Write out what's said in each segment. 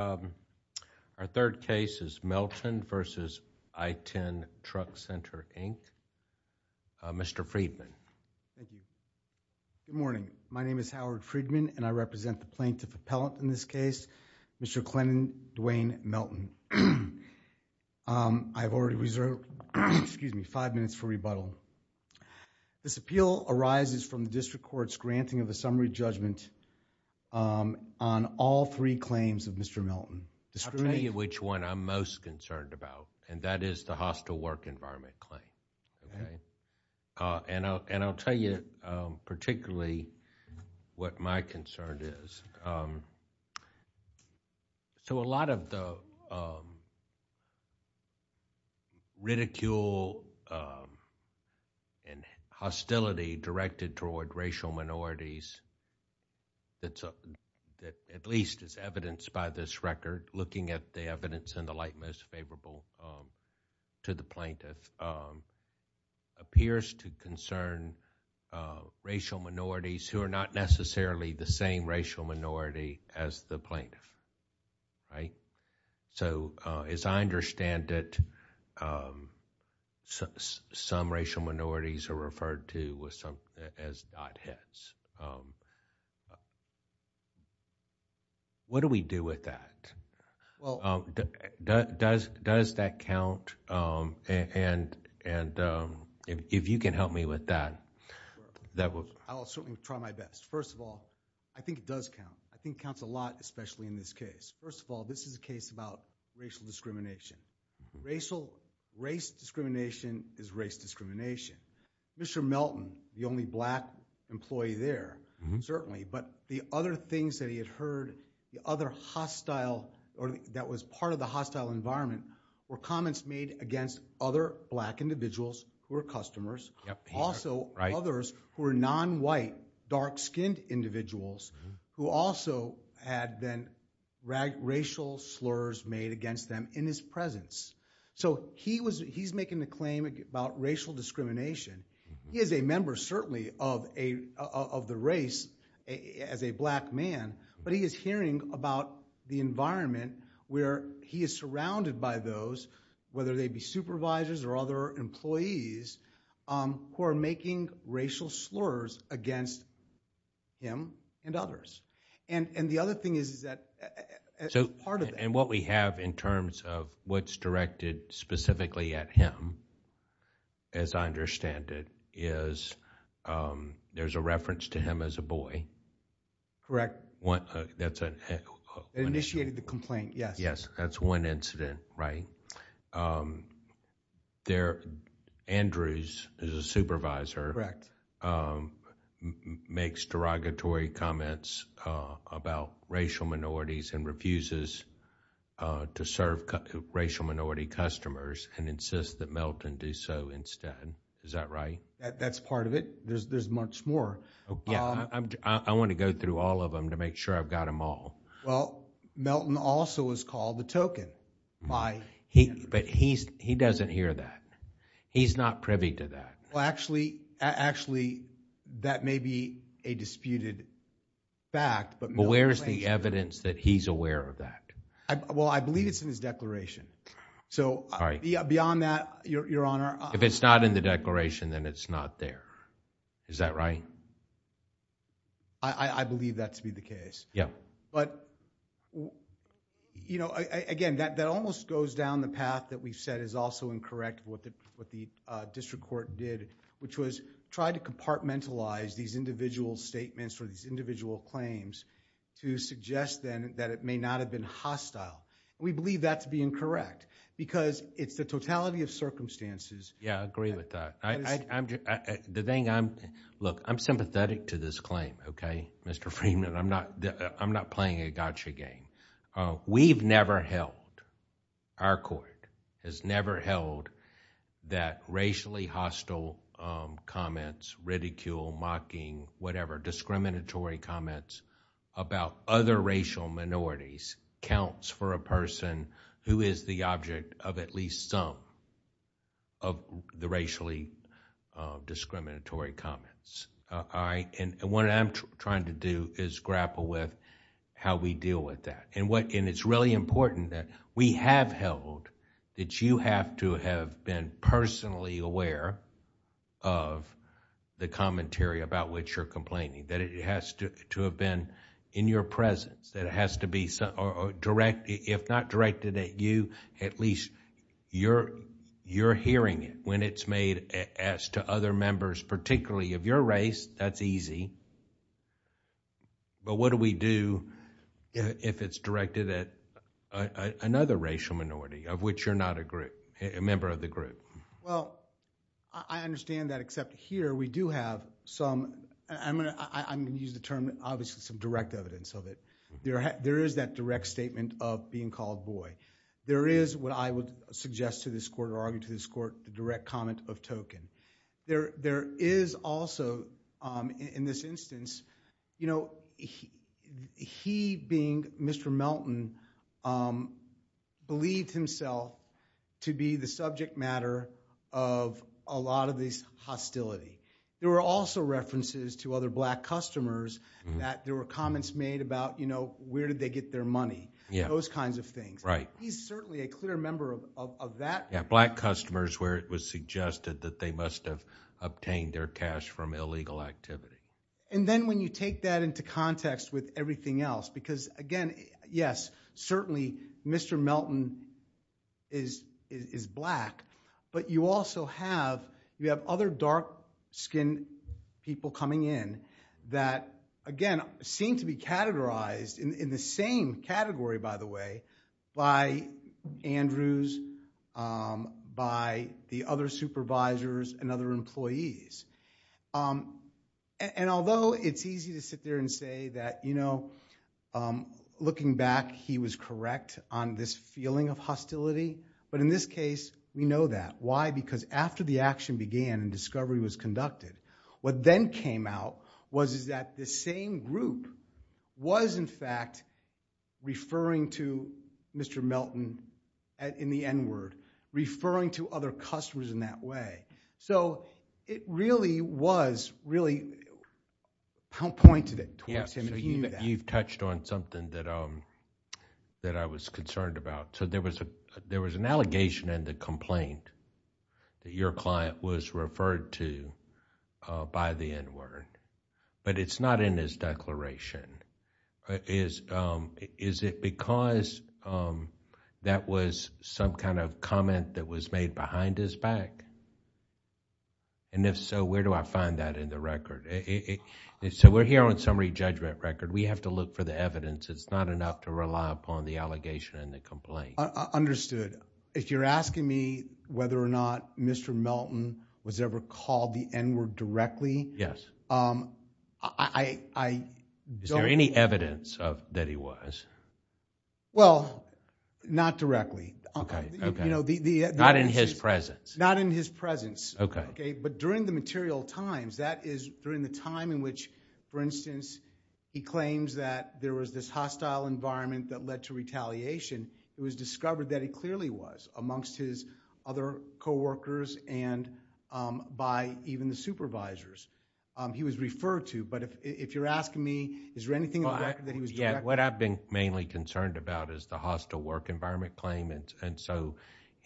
Our third case is Melton v. I-10 Truck Center, Inc. Mr. Friedman. Thank you. Good morning. My name is Howard Friedman and I represent the plaintiff appellant in this case, Mr. Clennon Duane Melton. I have already reserved five minutes for rebuttal. This appeal arises from the district court's granting of a summary judgment on all three claims of Mr. Melton. I'll tell you which one I'm most concerned about and that is the hostile work environment claim. And I'll tell you particularly what my concern is. So a lot of the ridicule and hostility directed toward racial minorities that at least is evidenced by this record looking at the evidence in the light most favorable to the plaintiff appears to concern racial minorities who are not necessarily the same racial minority as the plaintiff, right? So as I understand it, some racial minorities are referred to as not his. What do we do with that? Does that count and if you can help me with that, that would... I'll certainly try my best. First of all, I think it does count. I think it counts a lot especially in this case. First of all, this is a case about racial discrimination. Race discrimination is race discrimination. Mr. Melton, the only black employee there, certainly. But the other things that he had heard, the other hostile or that was part of the hostile environment were comments made against other black individuals who were customers. Also others who were non-white, dark-skinned individuals who also had been racial slurs made against them in his presence. So he's making the claim about racial discrimination. He is a member certainly of the race as a black man, but he is hearing about the environment where he is surrounded by those, whether they be supervisors or other employees, who are making racial slurs against him and others. And the other thing is that... And what we have in terms of what's directed specifically at him, as I understand it, is there's a reference to him as a boy. That's a... Initiated the complaint, yes. Yes. That's one incident, right? Andrews, who's a supervisor, makes derogatory comments about racial minorities and refuses to serve racial minority customers and insists that Melton do so instead. Is that right? That's part of it. There's much more. Yeah. I want to go through all of them to make sure I've got them all. Well, Melton also is called the token by... But he doesn't hear that. He's not privy to that. Well, actually, that may be a disputed fact, but Melton claims... Well, I believe it's in his declaration. So beyond that, Your Honor... If it's not in the declaration, then it's not there. Is that right? I believe that to be the case. But, you know, again, that almost goes down the path that we've said is also incorrect, what the district court did, which was try to compartmentalize these individual statements or these individual claims to suggest then that it may not have been hostile. We believe that to be incorrect because it's the totality of circumstances... Yeah, I agree with that. Look, I'm sympathetic to this claim, okay, Mr. Freeman? I'm not playing a gotcha game. We've never held... Our court has never held that racially hostile comments, ridicule, mocking, whatever, discriminatory comments about other racial minorities counts for a person who is the object of at least some of the racially discriminatory comments. What I'm trying to do is grapple with how we deal with that. It's really important that we have held that you have to have been personally aware of the commentary about which you're complaining. That it has to have been in your presence. That it has to be, if not directed at you, at least you're hearing it when it's made as to other members particularly of your race, that's easy. But what do we do if it's directed at another racial minority of which you're not a member of the group? Well, I understand that except here we do have some... I'm going to use the term, obviously, some direct evidence of it. There is that direct statement of being called boy. There is, what I would suggest to this court or argue to this court, the direct comment of token. There is also, in this instance, you know, he being Mr. Melton, believed himself to be the subject matter of a lot of this hostility. There were also references to other black customers that there were comments made about, you know, where did they get their money? Those kinds of things. He's certainly a clear member of that. Black customers where it was suggested that they must have obtained their cash from illegal activity. And then when you take that into context with everything else, because, again, yes, certainly Mr. Melton is black, but you also have other dark-skinned people coming in that, again, seem to be categorized in the same category, by the way, by Andrews, by the other supervisors and other employees. And although it's easy to sit there and say that, you know, looking back, he was correct on this feeling of hostility. But in this case, we know that. Why? Because after the action began and discovery was conducted, what then came out was that the same group was, in fact, referring to Mr. Melton in the N-word, referring to other customers in that way. It really was, really pointed it towards him. You've touched on something that I was concerned about. There was an allegation in the complaint that your client was referred to by the N-word, but it's not in his declaration. Is it because that was some kind of comment that was made behind his back? And if so, where do I find that in the record? So we're here on summary judgment record. We have to look for the evidence. It's not enough to rely upon the allegation in the complaint. I understood. If you're asking me whether or not Mr. Melton was ever called the N-word directly... Yes. I don't... Is there any evidence that he was? Well, not directly. Not in his presence. Not in his presence. Okay. But during the material times, that is during the time in which, for instance, he claims that there was this hostile environment that led to retaliation, it was discovered that he clearly was amongst his other coworkers and by even the supervisors. He was referred to, but if you're asking me, is there anything in the record that he was... What I've been mainly concerned about is the hostile work environment claim, and so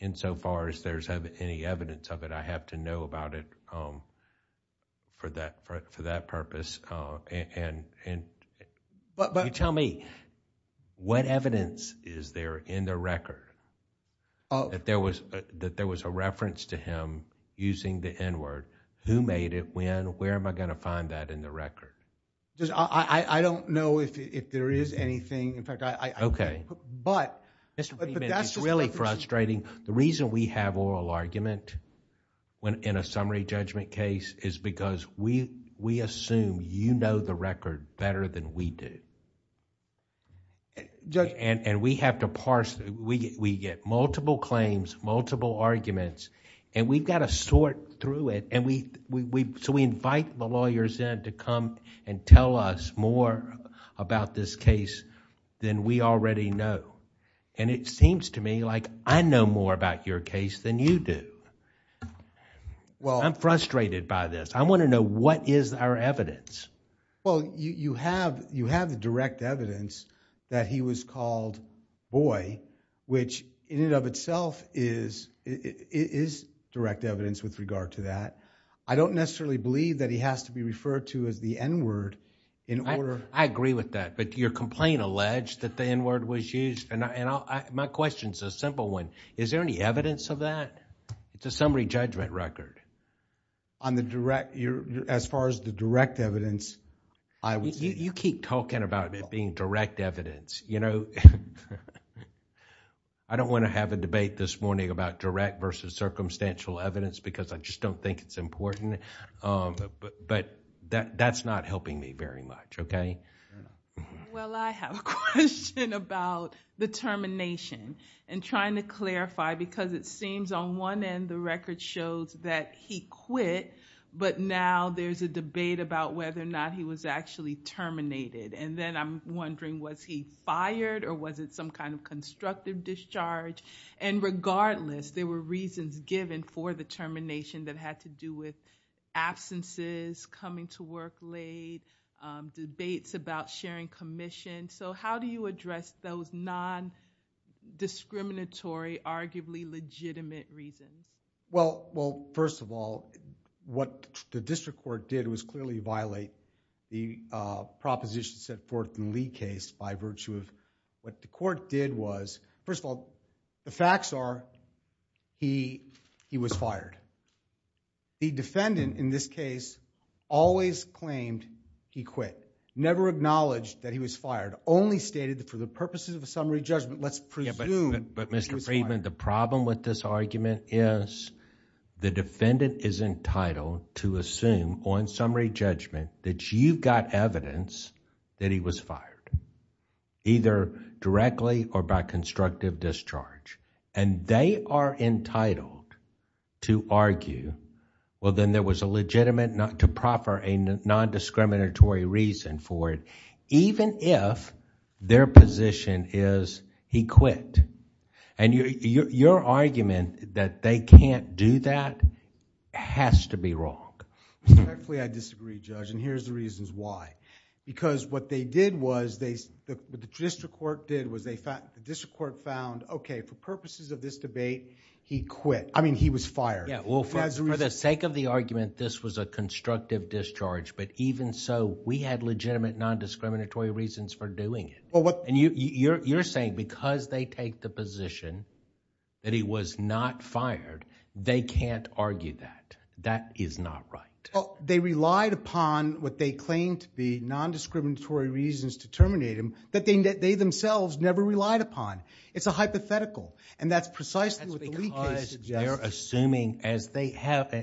insofar as there's any evidence of it, I have to know about it for that purpose. You tell me, what evidence is there in the record that there was a reference to him using the N-word? Who made it? When? Where am I going to find that in the record? I don't know if there is anything. In fact, I... But that's really frustrating. The reason we have oral argument in a summary judgment case is because we assume you know the record better than we do, and we have to parse... We get multiple claims, multiple arguments, and we've got to sort through it, so we invite the lawyers in to come and tell us more about this case than we already know. It seems to me like I know more about your case than you do. I'm frustrated by this. I want to know what is our evidence. Well, you have the direct evidence that he was called boy, which in and of itself is direct evidence with regard to that. I don't necessarily believe that he has to be referred to as the N-word in order... I agree with that, but your complaint alleged that the N-word was used, and my question is a simple one. Is there any evidence of that? It's a summary judgment record. As far as the direct evidence, I would say... You keep talking about it being direct evidence. I don't want to have a debate this morning about direct versus circumstantial evidence because I just don't think it's important, but that's not helping me very much. Well, I have a question about the termination and trying to clarify because it seems on one end the record shows that he quit, but now there's a debate about whether or not he was actually terminated. Then I'm wondering was he fired or was it some kind of constructive discharge? Regardless, there were reasons given for the termination that had to do with absences, coming to work late, debates about sharing commission. How do you address those non-discriminatory, arguably legitimate reasons? Well, first of all, what the district court did was clearly violate the proposition set forth in the Lee case by virtue of... What the court did was... First of all, the facts are he was fired. The defendant in this case always claimed he quit, never acknowledged that he was fired, only stated that for the purposes of a summary judgment, let's presume... Mr. Friedman, the problem with this argument is the defendant is entitled to assume on summary judgment that you got evidence that he was fired, either directly or by constructive discharge. They are entitled to argue, well, then there was a legitimate... even if their position is he quit. Your argument that they can't do that has to be wrong. Respectfully, I disagree, Judge, and here's the reasons why. Because what they did was... What the district court did was the district court found, okay, for purposes of this debate, he quit. I mean, he was fired. For the sake of the argument, this was a constructive discharge, but even so, we had legitimate nondiscriminatory reasons for doing it. You're saying because they take the position that he was not fired, they can't argue that. That is not right. They relied upon what they claimed to be nondiscriminatory reasons to terminate him that they themselves never relied upon. It's a hypothetical, and that's precisely what the Lee case suggests. They're assuming, as they have...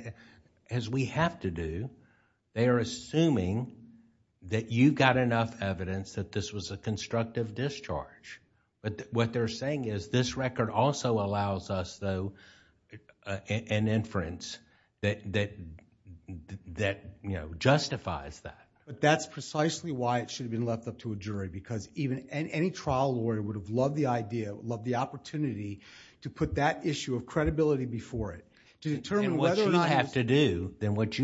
as we have to do, they are assuming that you got enough evidence that this was a constructive discharge. What they're saying is this record also allows us, though, an inference that justifies that. That's precisely why it should have been left up to a jury. Any trial lawyer would have loved the idea, loved the opportunity to put that issue of credibility before it. To determine whether or not... What you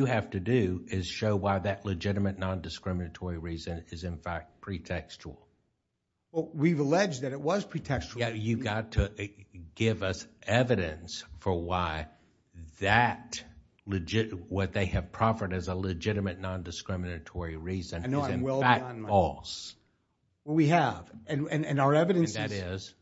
have to do is show why that legitimate nondiscriminatory reason is, in fact, pretextual. We've alleged that it was pretextual. You've got to give us evidence for why that... what they have proffered as a legitimate nondiscriminatory reason... I know I'm well beyond my... We have, and our evidence is... And that is?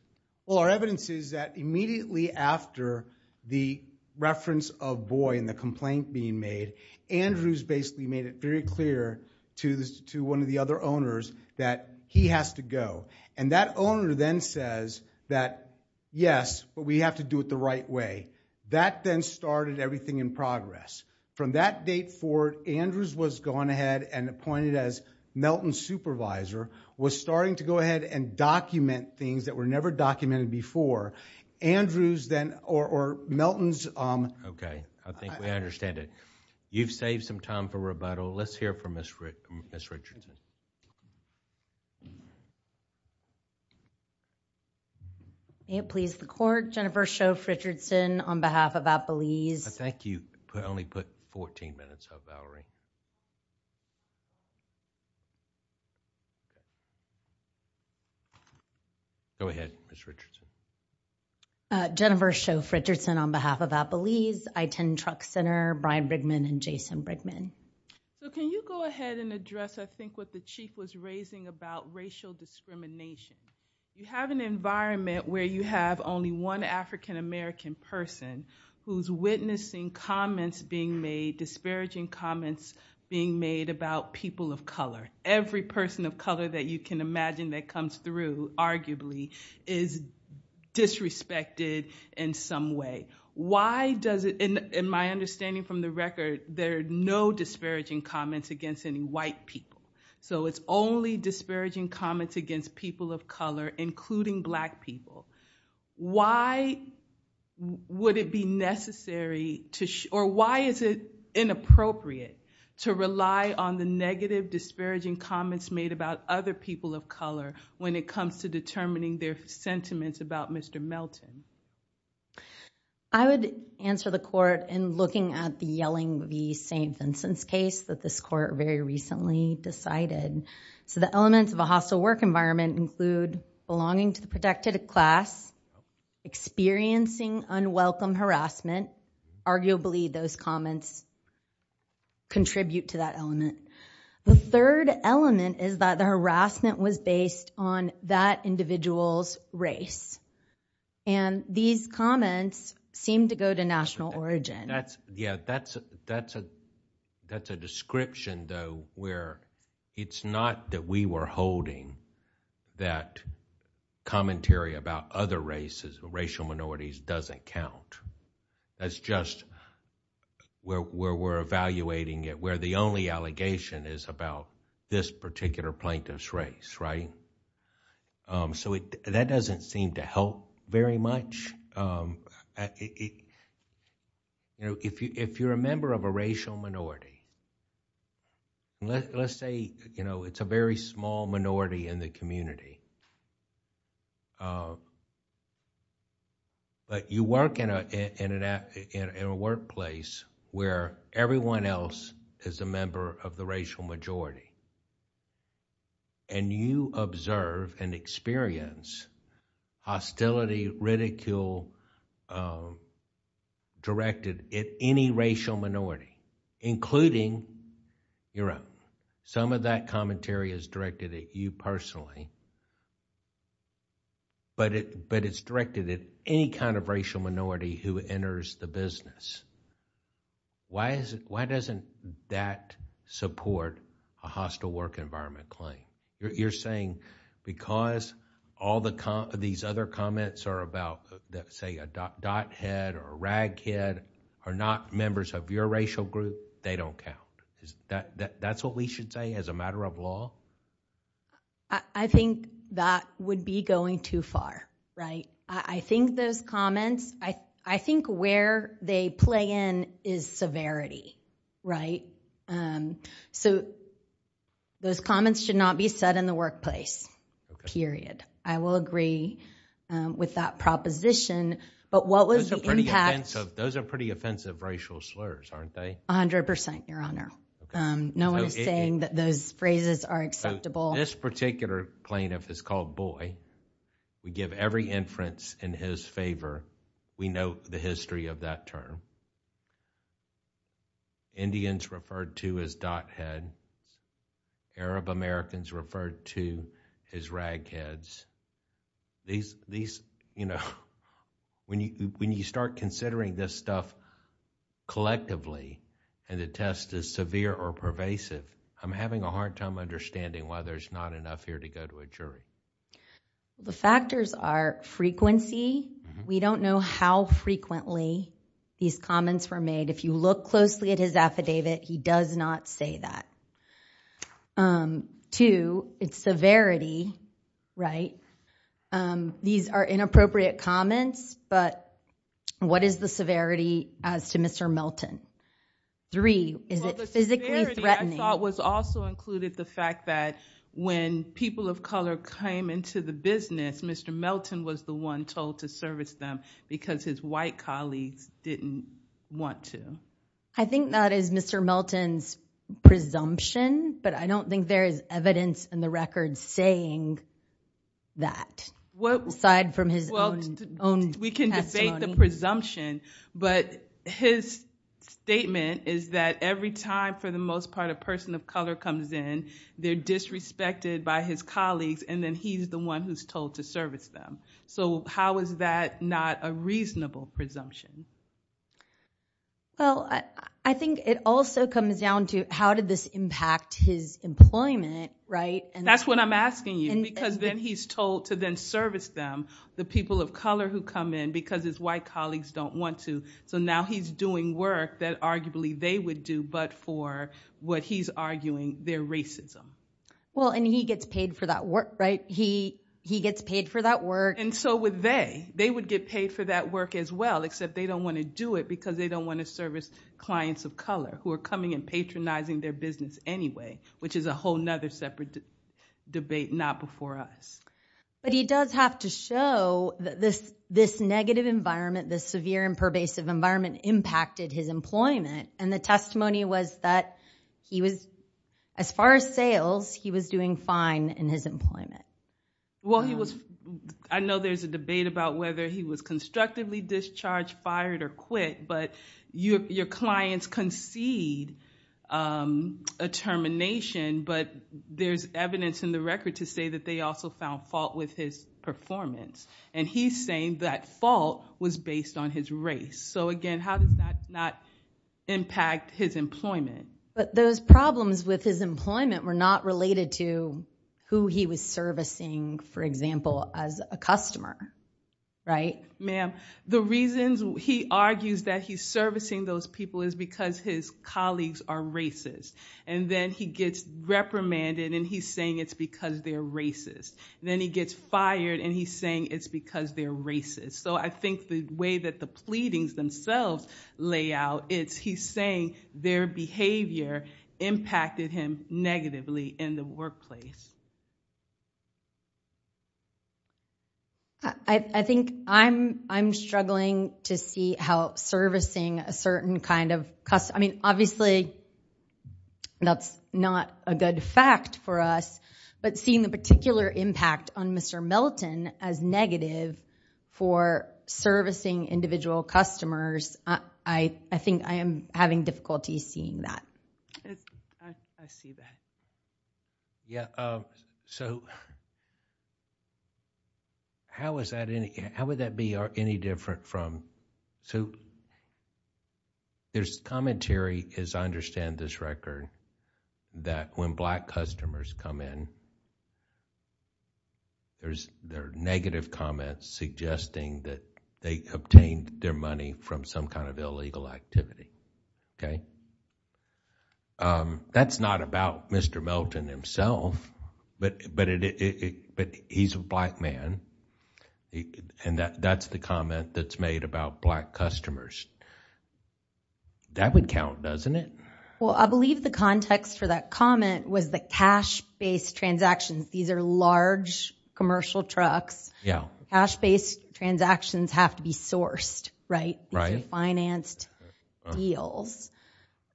Well, our evidence is that immediately after the reference of Boye and the complaint being made, Andrews basically made it very clear to one of the other owners that he has to go. That owner then says that, yes, but we have to do it the right way. That then started everything in progress. From that date forward, Andrews was gone ahead and appointed as Melton's supervisor, was starting to go ahead and document things that were never documented before. Andrews then... or Melton's... Okay, I think we understand it. You've saved some time for rebuttal. Let's hear from Ms. Richardson. May it please the Court. Jennifer Shove Richardson on behalf of Appalese. I think you only put fourteen minutes up, Valerie. Go ahead, Ms. Richardson. Jennifer Shove Richardson on behalf of Appalese. I attend Truck Center. Brian Brickman and Jason Brickman. Can you go ahead and address, I think, what the Chief was raising about racial discrimination? You have an environment where you have only one African-American person who's witnessing comments being made, disparaging comments being made about people of color. Every person of color that you can imagine that comes through, arguably, is disrespected in some way. Why does it... in my understanding from the record, there are no disparaging comments against any white people. So it's only disparaging comments against people of color, including black people. Why would it be necessary to... disparaging comments made about other people of color when it comes to determining their sentiments about Mr. Melton? I would answer the Court in looking at the Yelling v. St. Vincent's case that this Court very recently decided. So the elements of a hostile work environment include belonging to the protected class, experiencing unwelcome harassment. Arguably, those comments contribute to that element. The third element is that the harassment was based on that individual's race. And these comments seem to go to national origin. Yeah, that's a description, though, where it's not that we were holding that commentary about other races or racial minorities doesn't count. That's just where we're evaluating it. We're the only allegation is about this particular plaintiff's race. So that doesn't seem to help very much. If you're a member of a racial minority, let's say it's a very small minority in the community, but you work in a workplace where everyone else is a member of the racial majority and you observe and experience hostility, ridicule directed at any racial minority, including your own. Some of that commentary is directed at you personally, but it's directed at any kind of racial minority who enters the business. Why doesn't that support a hostile work environment claim? You're saying because all these other comments are about, say, a dot head or a rag head are not members of your racial group, they don't count. That's what we should say as a matter of law? I think that would be going too far, right? I think those comments, I think where they play in is severity, right? So those comments should not be said in the workplace, period. I will agree with that proposition, but what was the impact? Those are pretty offensive racial slurs, aren't they? A hundred percent, Your Honor. No one is saying that those phrases are acceptable. This particular plaintiff is called Boy. We give every inference in his favor. We know the history of that term. Indians referred to as dot head. Arab Americans referred to as rag heads. When you start considering this stuff collectively, and the test is severe or pervasive, I'm having a hard time understanding why there's not enough here to go to a jury. The factors are frequency. We don't know how frequently these comments were made. If you look closely at his affidavit, he does not say that. Two, it's severity, right? These are inappropriate comments, but what is the severity as to Mr. Melton? Three, is it physically threatening? Well, the severity I thought was also included the fact that when people of color came into the business, Mr. Melton was the one told to service them because his white colleagues didn't want to. I think that is Mr. Melton's presumption, but I don't think there is evidence in the record saying that, aside from his own testimony. We can debate the presumption, but his statement is that every time, for the most part, a person of color comes in, they're disrespected by his colleagues, and then he's the one who's told to service them. How is that not a reasonable presumption? Well, I think it also comes down to how did this impact his employment, right? That's what I'm asking you, because then he's told to then service them, the people of color who come in, because his white colleagues don't want to. So now he's doing work that arguably they would do, but for what he's arguing, their racism. Well, and he gets paid for that work, right? He gets paid for that work. And so would they. They would get paid for that work as well, except they don't want to do it because they don't want to service clients of color who are coming and patronizing their business anyway, which is a whole other separate debate not before us. But he does have to show that this negative environment, this severe and pervasive environment, impacted his employment, and the testimony was that he was, as far as sales, he was doing fine in his employment. Well, I know there's a debate about whether he was constructively discharged, fired, or quit, but your clients concede a termination, but there's evidence in the record to say that they also found fault with his performance. And he's saying that fault was based on his race. So, again, how does that not impact his employment? But those problems with his employment were not related to who he was servicing, for example, as a customer, right? Ma'am, the reasons he argues that he's servicing those people is because his colleagues are racist. And then he gets reprimanded, and he's saying it's because they're racist. Then he gets fired, and he's saying it's because they're racist. So I think the way that the pleadings themselves lay out, it's he's saying their behavior impacted him negatively in the workplace. I think I'm struggling to see how servicing a certain kind of customer... I mean, obviously, that's not a good fact for us, but seeing the particular impact on Mr. Milton as negative for servicing individual customers, I think I am having difficulty seeing that. I see that. Yeah, so how would that be any different from... There's commentary, as I understand this record, that when black customers come in, there are negative comments suggesting that they obtained their money from some kind of illegal activity. That's not about Mr. Milton himself, but he's a black man, and that's the comment that's made about black customers. That would count, doesn't it? Well, I believe the context for that comment was the cash-based transactions. These are large commercial trucks. Cash-based transactions have to be sourced, right? These are financed deals.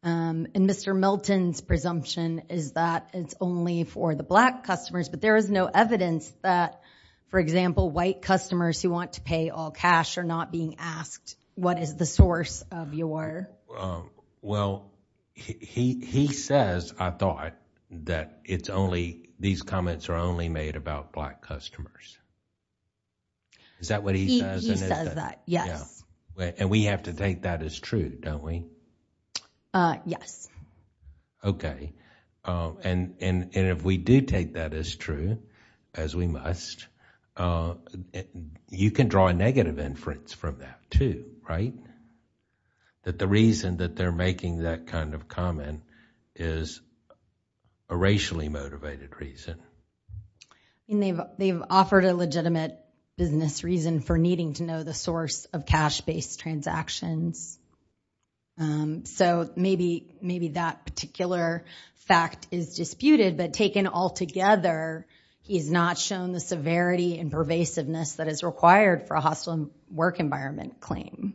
And Mr. Milton's presumption is that it's only for the black customers, but there is no evidence that, for example, white customers who want to pay all cash are not being asked, what is the source of your... Well, he says, I thought, that these comments are only made about black customers. Is that what he says? He says that, yes. And we have to take that as true, don't we? Yes. Okay. And if we do take that as true, as we must, you can draw a negative inference from that too, right? That the reason that they're making that kind of comment is a racially motivated reason. And they've offered a legitimate business reason for needing to know the source of cash-based transactions. So maybe that particular fact is disputed, but taken all together, he's not shown the severity and pervasiveness that is required for a hostile work environment claim.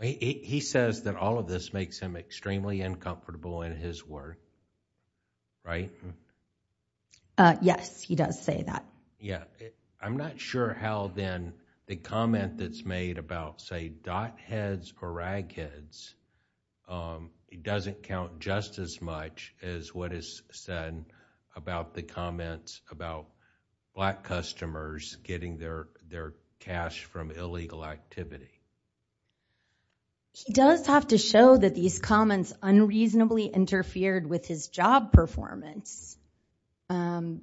He says that all of this makes him extremely uncomfortable in his work, right? Yes, he does say that. Yeah, I'm not sure how, then, the comment that's made about, say, dot heads or rag heads, it doesn't count just as much as what is said about the comments about black customers getting their cash from illegal activity. He does have to show that these comments unreasonably interfered with his job performance. You're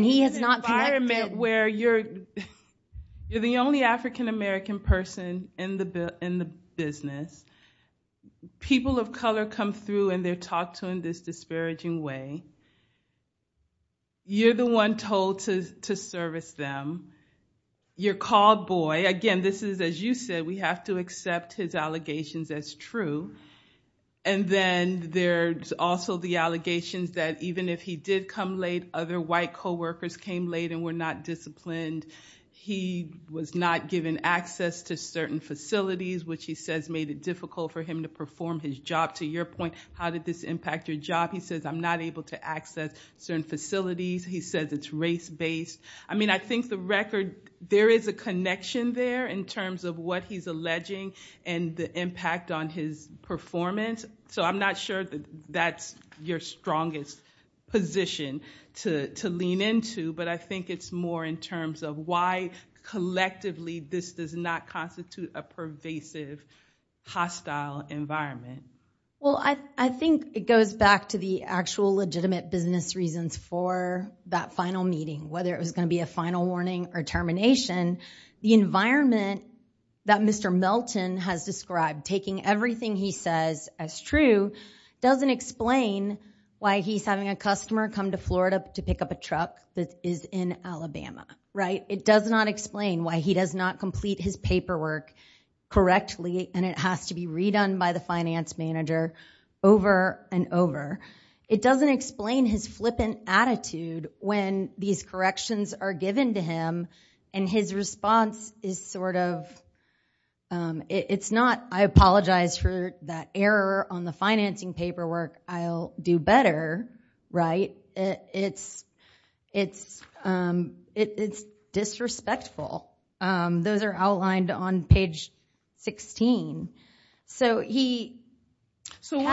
in an environment where you're the only African-American person in the business. People of color come through and they're talked to in this disparaging way. You're the one told to service them. You're called boy. Again, this is, as you said, we have to accept his allegations as true. And then there's also the allegations that even if he did come late, other white coworkers came late and were not disciplined. He was not given access to certain facilities, which he says made it difficult for him to perform his job. To your point, how did this impact your job? He says, I'm not able to access certain facilities. He says it's race-based. I think the record, there is a connection there in terms of what he's alleging and the impact on his performance. So I'm not sure that that's your strongest position to lean into, but I think it's more in terms of why collectively this does not constitute a pervasive, hostile environment. I think it goes back to the actual legitimate business reasons for that final meeting, whether it was going to be a final warning or termination. The environment that Mr. Melton has described, taking everything he says as true, doesn't explain why he's having a customer come to Florida to pick up a truck that is in Alabama. It does not explain why he does not complete his paperwork correctly and it has to be redone by the finance manager over and over. It doesn't explain his flippant attitude when these corrections are given to him and his response is sort of, it's not, I apologize for that error on the financing paperwork. I'll do better, right? It's disrespectful. Those are outlined on page 16. So what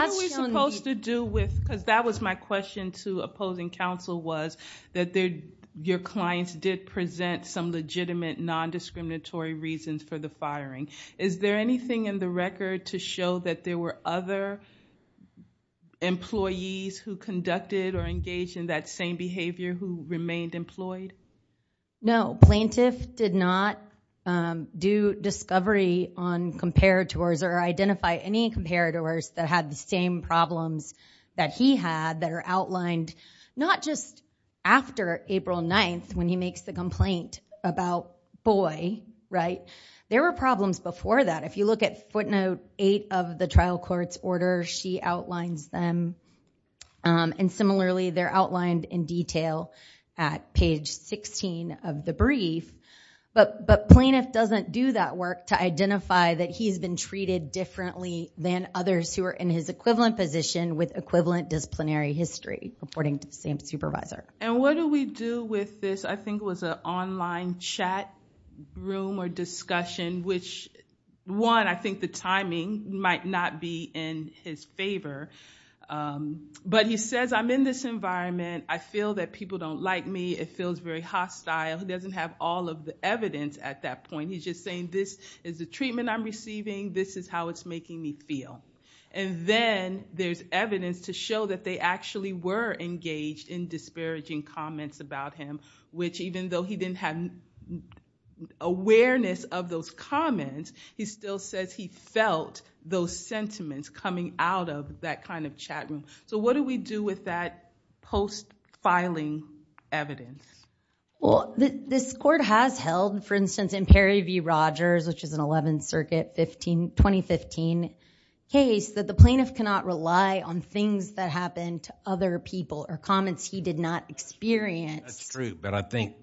are we supposed to do with, because that was my question to opposing counsel, was that your clients did present some legitimate non-discriminatory reasons for the firing. Is there anything in the record to show that there were other employees who conducted or engaged in that same behavior who remained employed? No. Plaintiff did not do discovery on comparators or identify any comparators that had the same problems that he had that are outlined not just after April 9th when he makes the complaint about boy, right? There were problems before that. If you look at footnote 8 of the trial court's order, she outlines them. And similarly, they're outlined in detail at page 16 of the brief. But plaintiff doesn't do that work to identify that he's been treated differently than others who are in his equivalent position with equivalent disciplinary history, according to the same supervisor. And what do we do with this? I think it was an online chat room or discussion, which one, I think the timing might not be in his favor. But he says, I'm in this environment. I feel that people don't like me. It feels very hostile. He doesn't have all of the evidence at that point. He's just saying, this is the treatment I'm receiving. This is how it's making me feel. And then there's evidence to show that they actually were engaged in disparaging comments about him, which even though he didn't have awareness of those comments, he still says he felt those sentiments coming out of that kind of chat room. So what do we do with that post-filing evidence? Well, this court has held, for instance, in Perry v. Rogers, which is an 11th Circuit 2015 case, that the plaintiff cannot rely on things that happened to other people or comments he did not experience. That's true. But I think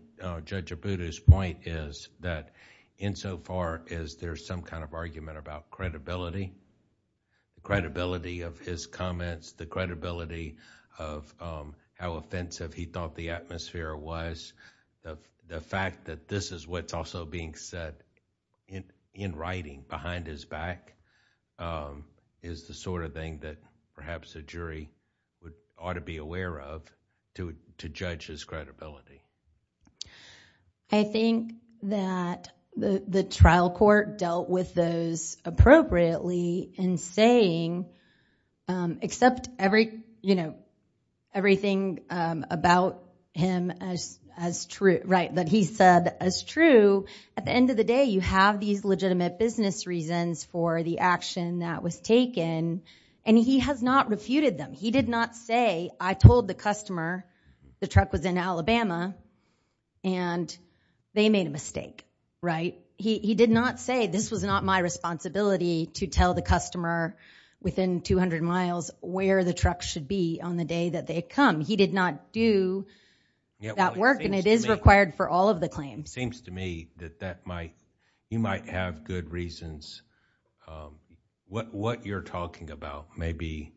Judge Abboudi's point is that insofar as there's some kind of argument about credibility, credibility of his comments, the credibility of how offensive he thought the atmosphere was, the fact that this is what's also being said in writing behind his back is the sort of thing that perhaps a jury ought to be aware of to judge his credibility. I think that the trial court dealt with those appropriately in saying, except everything about him as true, right, that he said as true, at the end of the day you have these legitimate business reasons for the action that was taken, and he has not refuted them. He did not say, I told the customer the truck was in Alabama and they made a mistake, right? He did not say this was not my responsibility to tell the customer within 200 miles where the truck should be on the day that they come. He did not do that work, and it is required for all of the claims. It seems to me that you might have good reasons. What you're talking about may be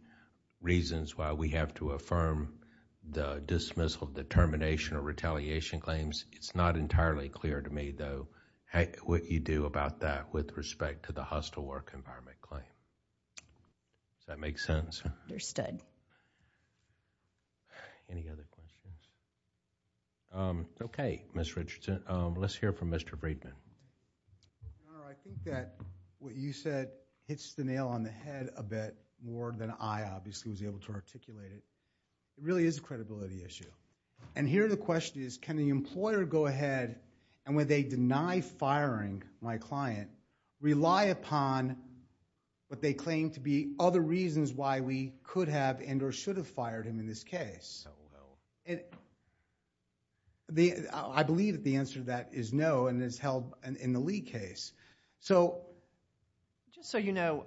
reasons why we have to affirm the dismissal determination or retaliation claims. It's not entirely clear to me though what you do about that with respect to the hostile work environment claim. Does that make sense? Any other questions? Okay, Ms. Richardson. Let's hear from Mr. Breedman. I think that what you said hits the nail on the head a bit more than I obviously was able to articulate it. It really is a credibility issue. And here the question is, can the employer go ahead and when they deny firing my client, rely upon what they claim to be other reasons why we could have and or should have fired him in this case? I believe that the answer to that is no and is held in the Lee case. Just so you know,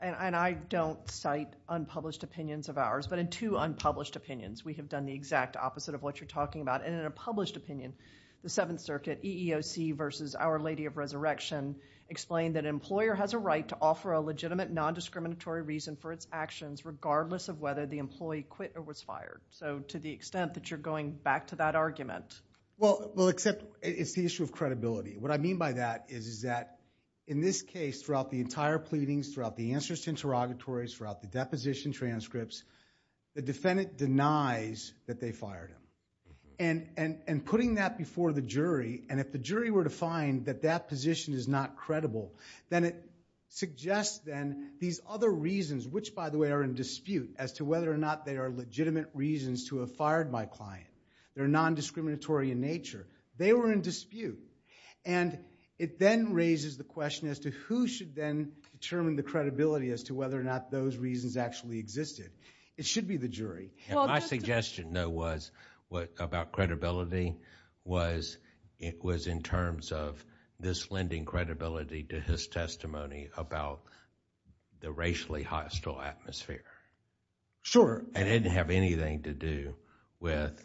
and I don't cite unpublished opinions of ours, but in two unpublished opinions, we have done the exact opposite of what you're talking about. In a published opinion, the Seventh Circuit EEOC versus Our Lady of Resurrection explained that an employer has a right to offer a legitimate nondiscriminatory reason for its actions regardless of whether the employee quit or was fired. To the extent that you're going back to that argument. Well, except it's the issue of credibility. What I mean by that is that in this case throughout the entire pleadings, throughout the answers to interrogatories, throughout the deposition transcripts, the defendant denies that they fired him. And putting that before the jury and if the jury were to find that that position is not credible, then it suggests then these other reasons which by the way are in dispute as to whether or not they are legitimate reasons to have fired my client. They're nondiscriminatory in nature. They were in dispute. And it then raises the question as to who should then determine the credibility as to whether or not those reasons actually existed. It should be the jury. My suggestion though was about credibility was in terms of this lending credibility to his testimony about the racially hostile atmosphere. Sure. It didn't have anything to do with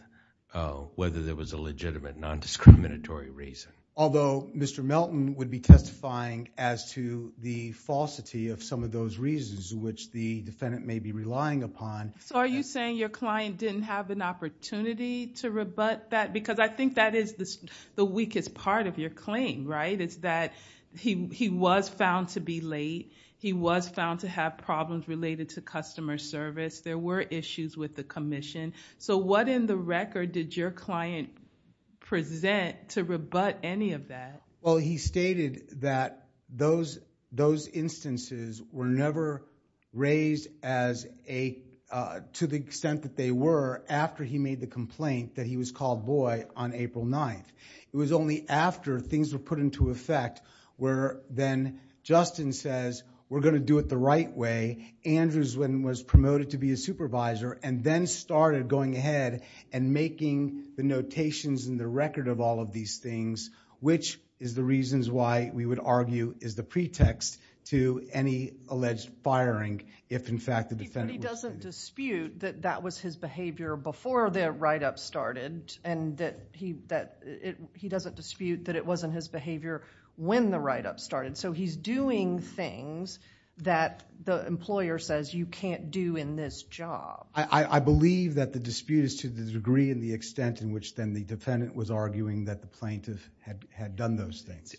whether there was a legitimate nondiscriminatory reason. Although Mr. Melton would be testifying as to the falsity of some of those reasons which the defendant may be relying upon. Are you saying your client didn't have an opportunity to rebut that? Because I think that is the weakest part of your claim, right? It's that he was found to be late. He was found to have problems related to customer service. There were issues with the commission. What in the record did your client present to rebut any of that? Well, he stated that those instances were never raised to the extent that they were after he made the complaint that he was called boy on April 9th. It was only after things were put into effect where then Justin says, we're going to do it the right way. Andrews then was promoted to be a supervisor and then started going ahead and making the notations in the record of all of these things which is the reasons why we would argue is the pretext to any alleged firing if in fact the defendant... But he doesn't dispute that that was his behavior before the write-up started and that he doesn't dispute that it wasn't his behavior when the write-up started. He's doing things that the employer says you can't do in this job. I believe that the dispute is to the degree and the extent in which then the defendant was arguing that the plaintiff had done those things.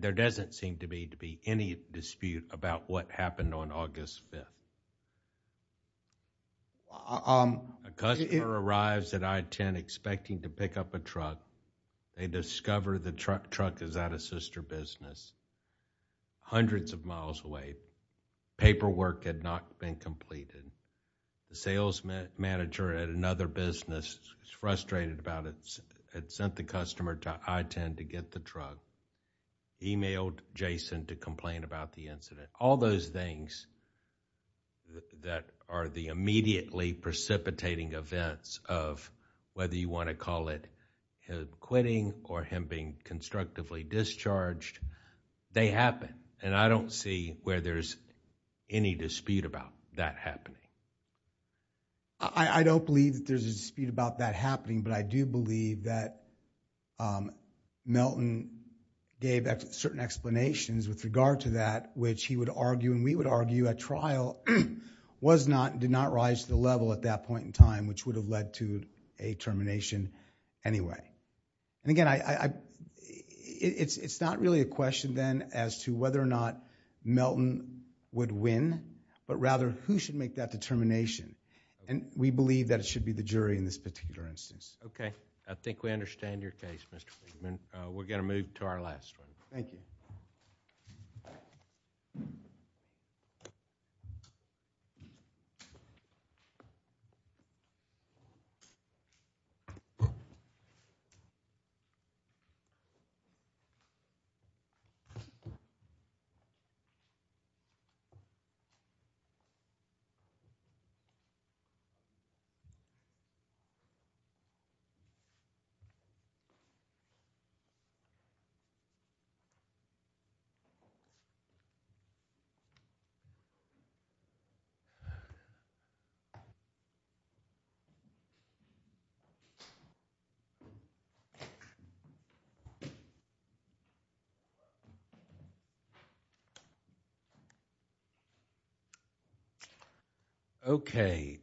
There doesn't seem to be any dispute about what happened on August 5th. A customer arrives at I-10 expecting to pick up a truck. They discover the truck is at a sister business. Hundreds of miles away. Paperwork had not been completed. The sales manager at another business was frustrated about it. Had sent the customer to I-10 to get the truck. Emailed Jason to complain about the incident. All those things that are the immediately precipitating events of whether you want to call it quitting or him being constructively discharged, they happen and I don't see where there's any dispute about that happening. I don't believe that there's a dispute about that happening but I do believe that Melton gave certain explanations with regard to that which he would argue and we would argue at trial was not, did not rise to the level at that point in time which would have led to a termination anyway. Again, it's not really a question then as to whether or not Melton would win but rather who should make that determination and we believe that it should be the jury in this particular instance. Okay, I think we understand your case Mr. Freeman. We're going to move to our last one. Thank you. Okay.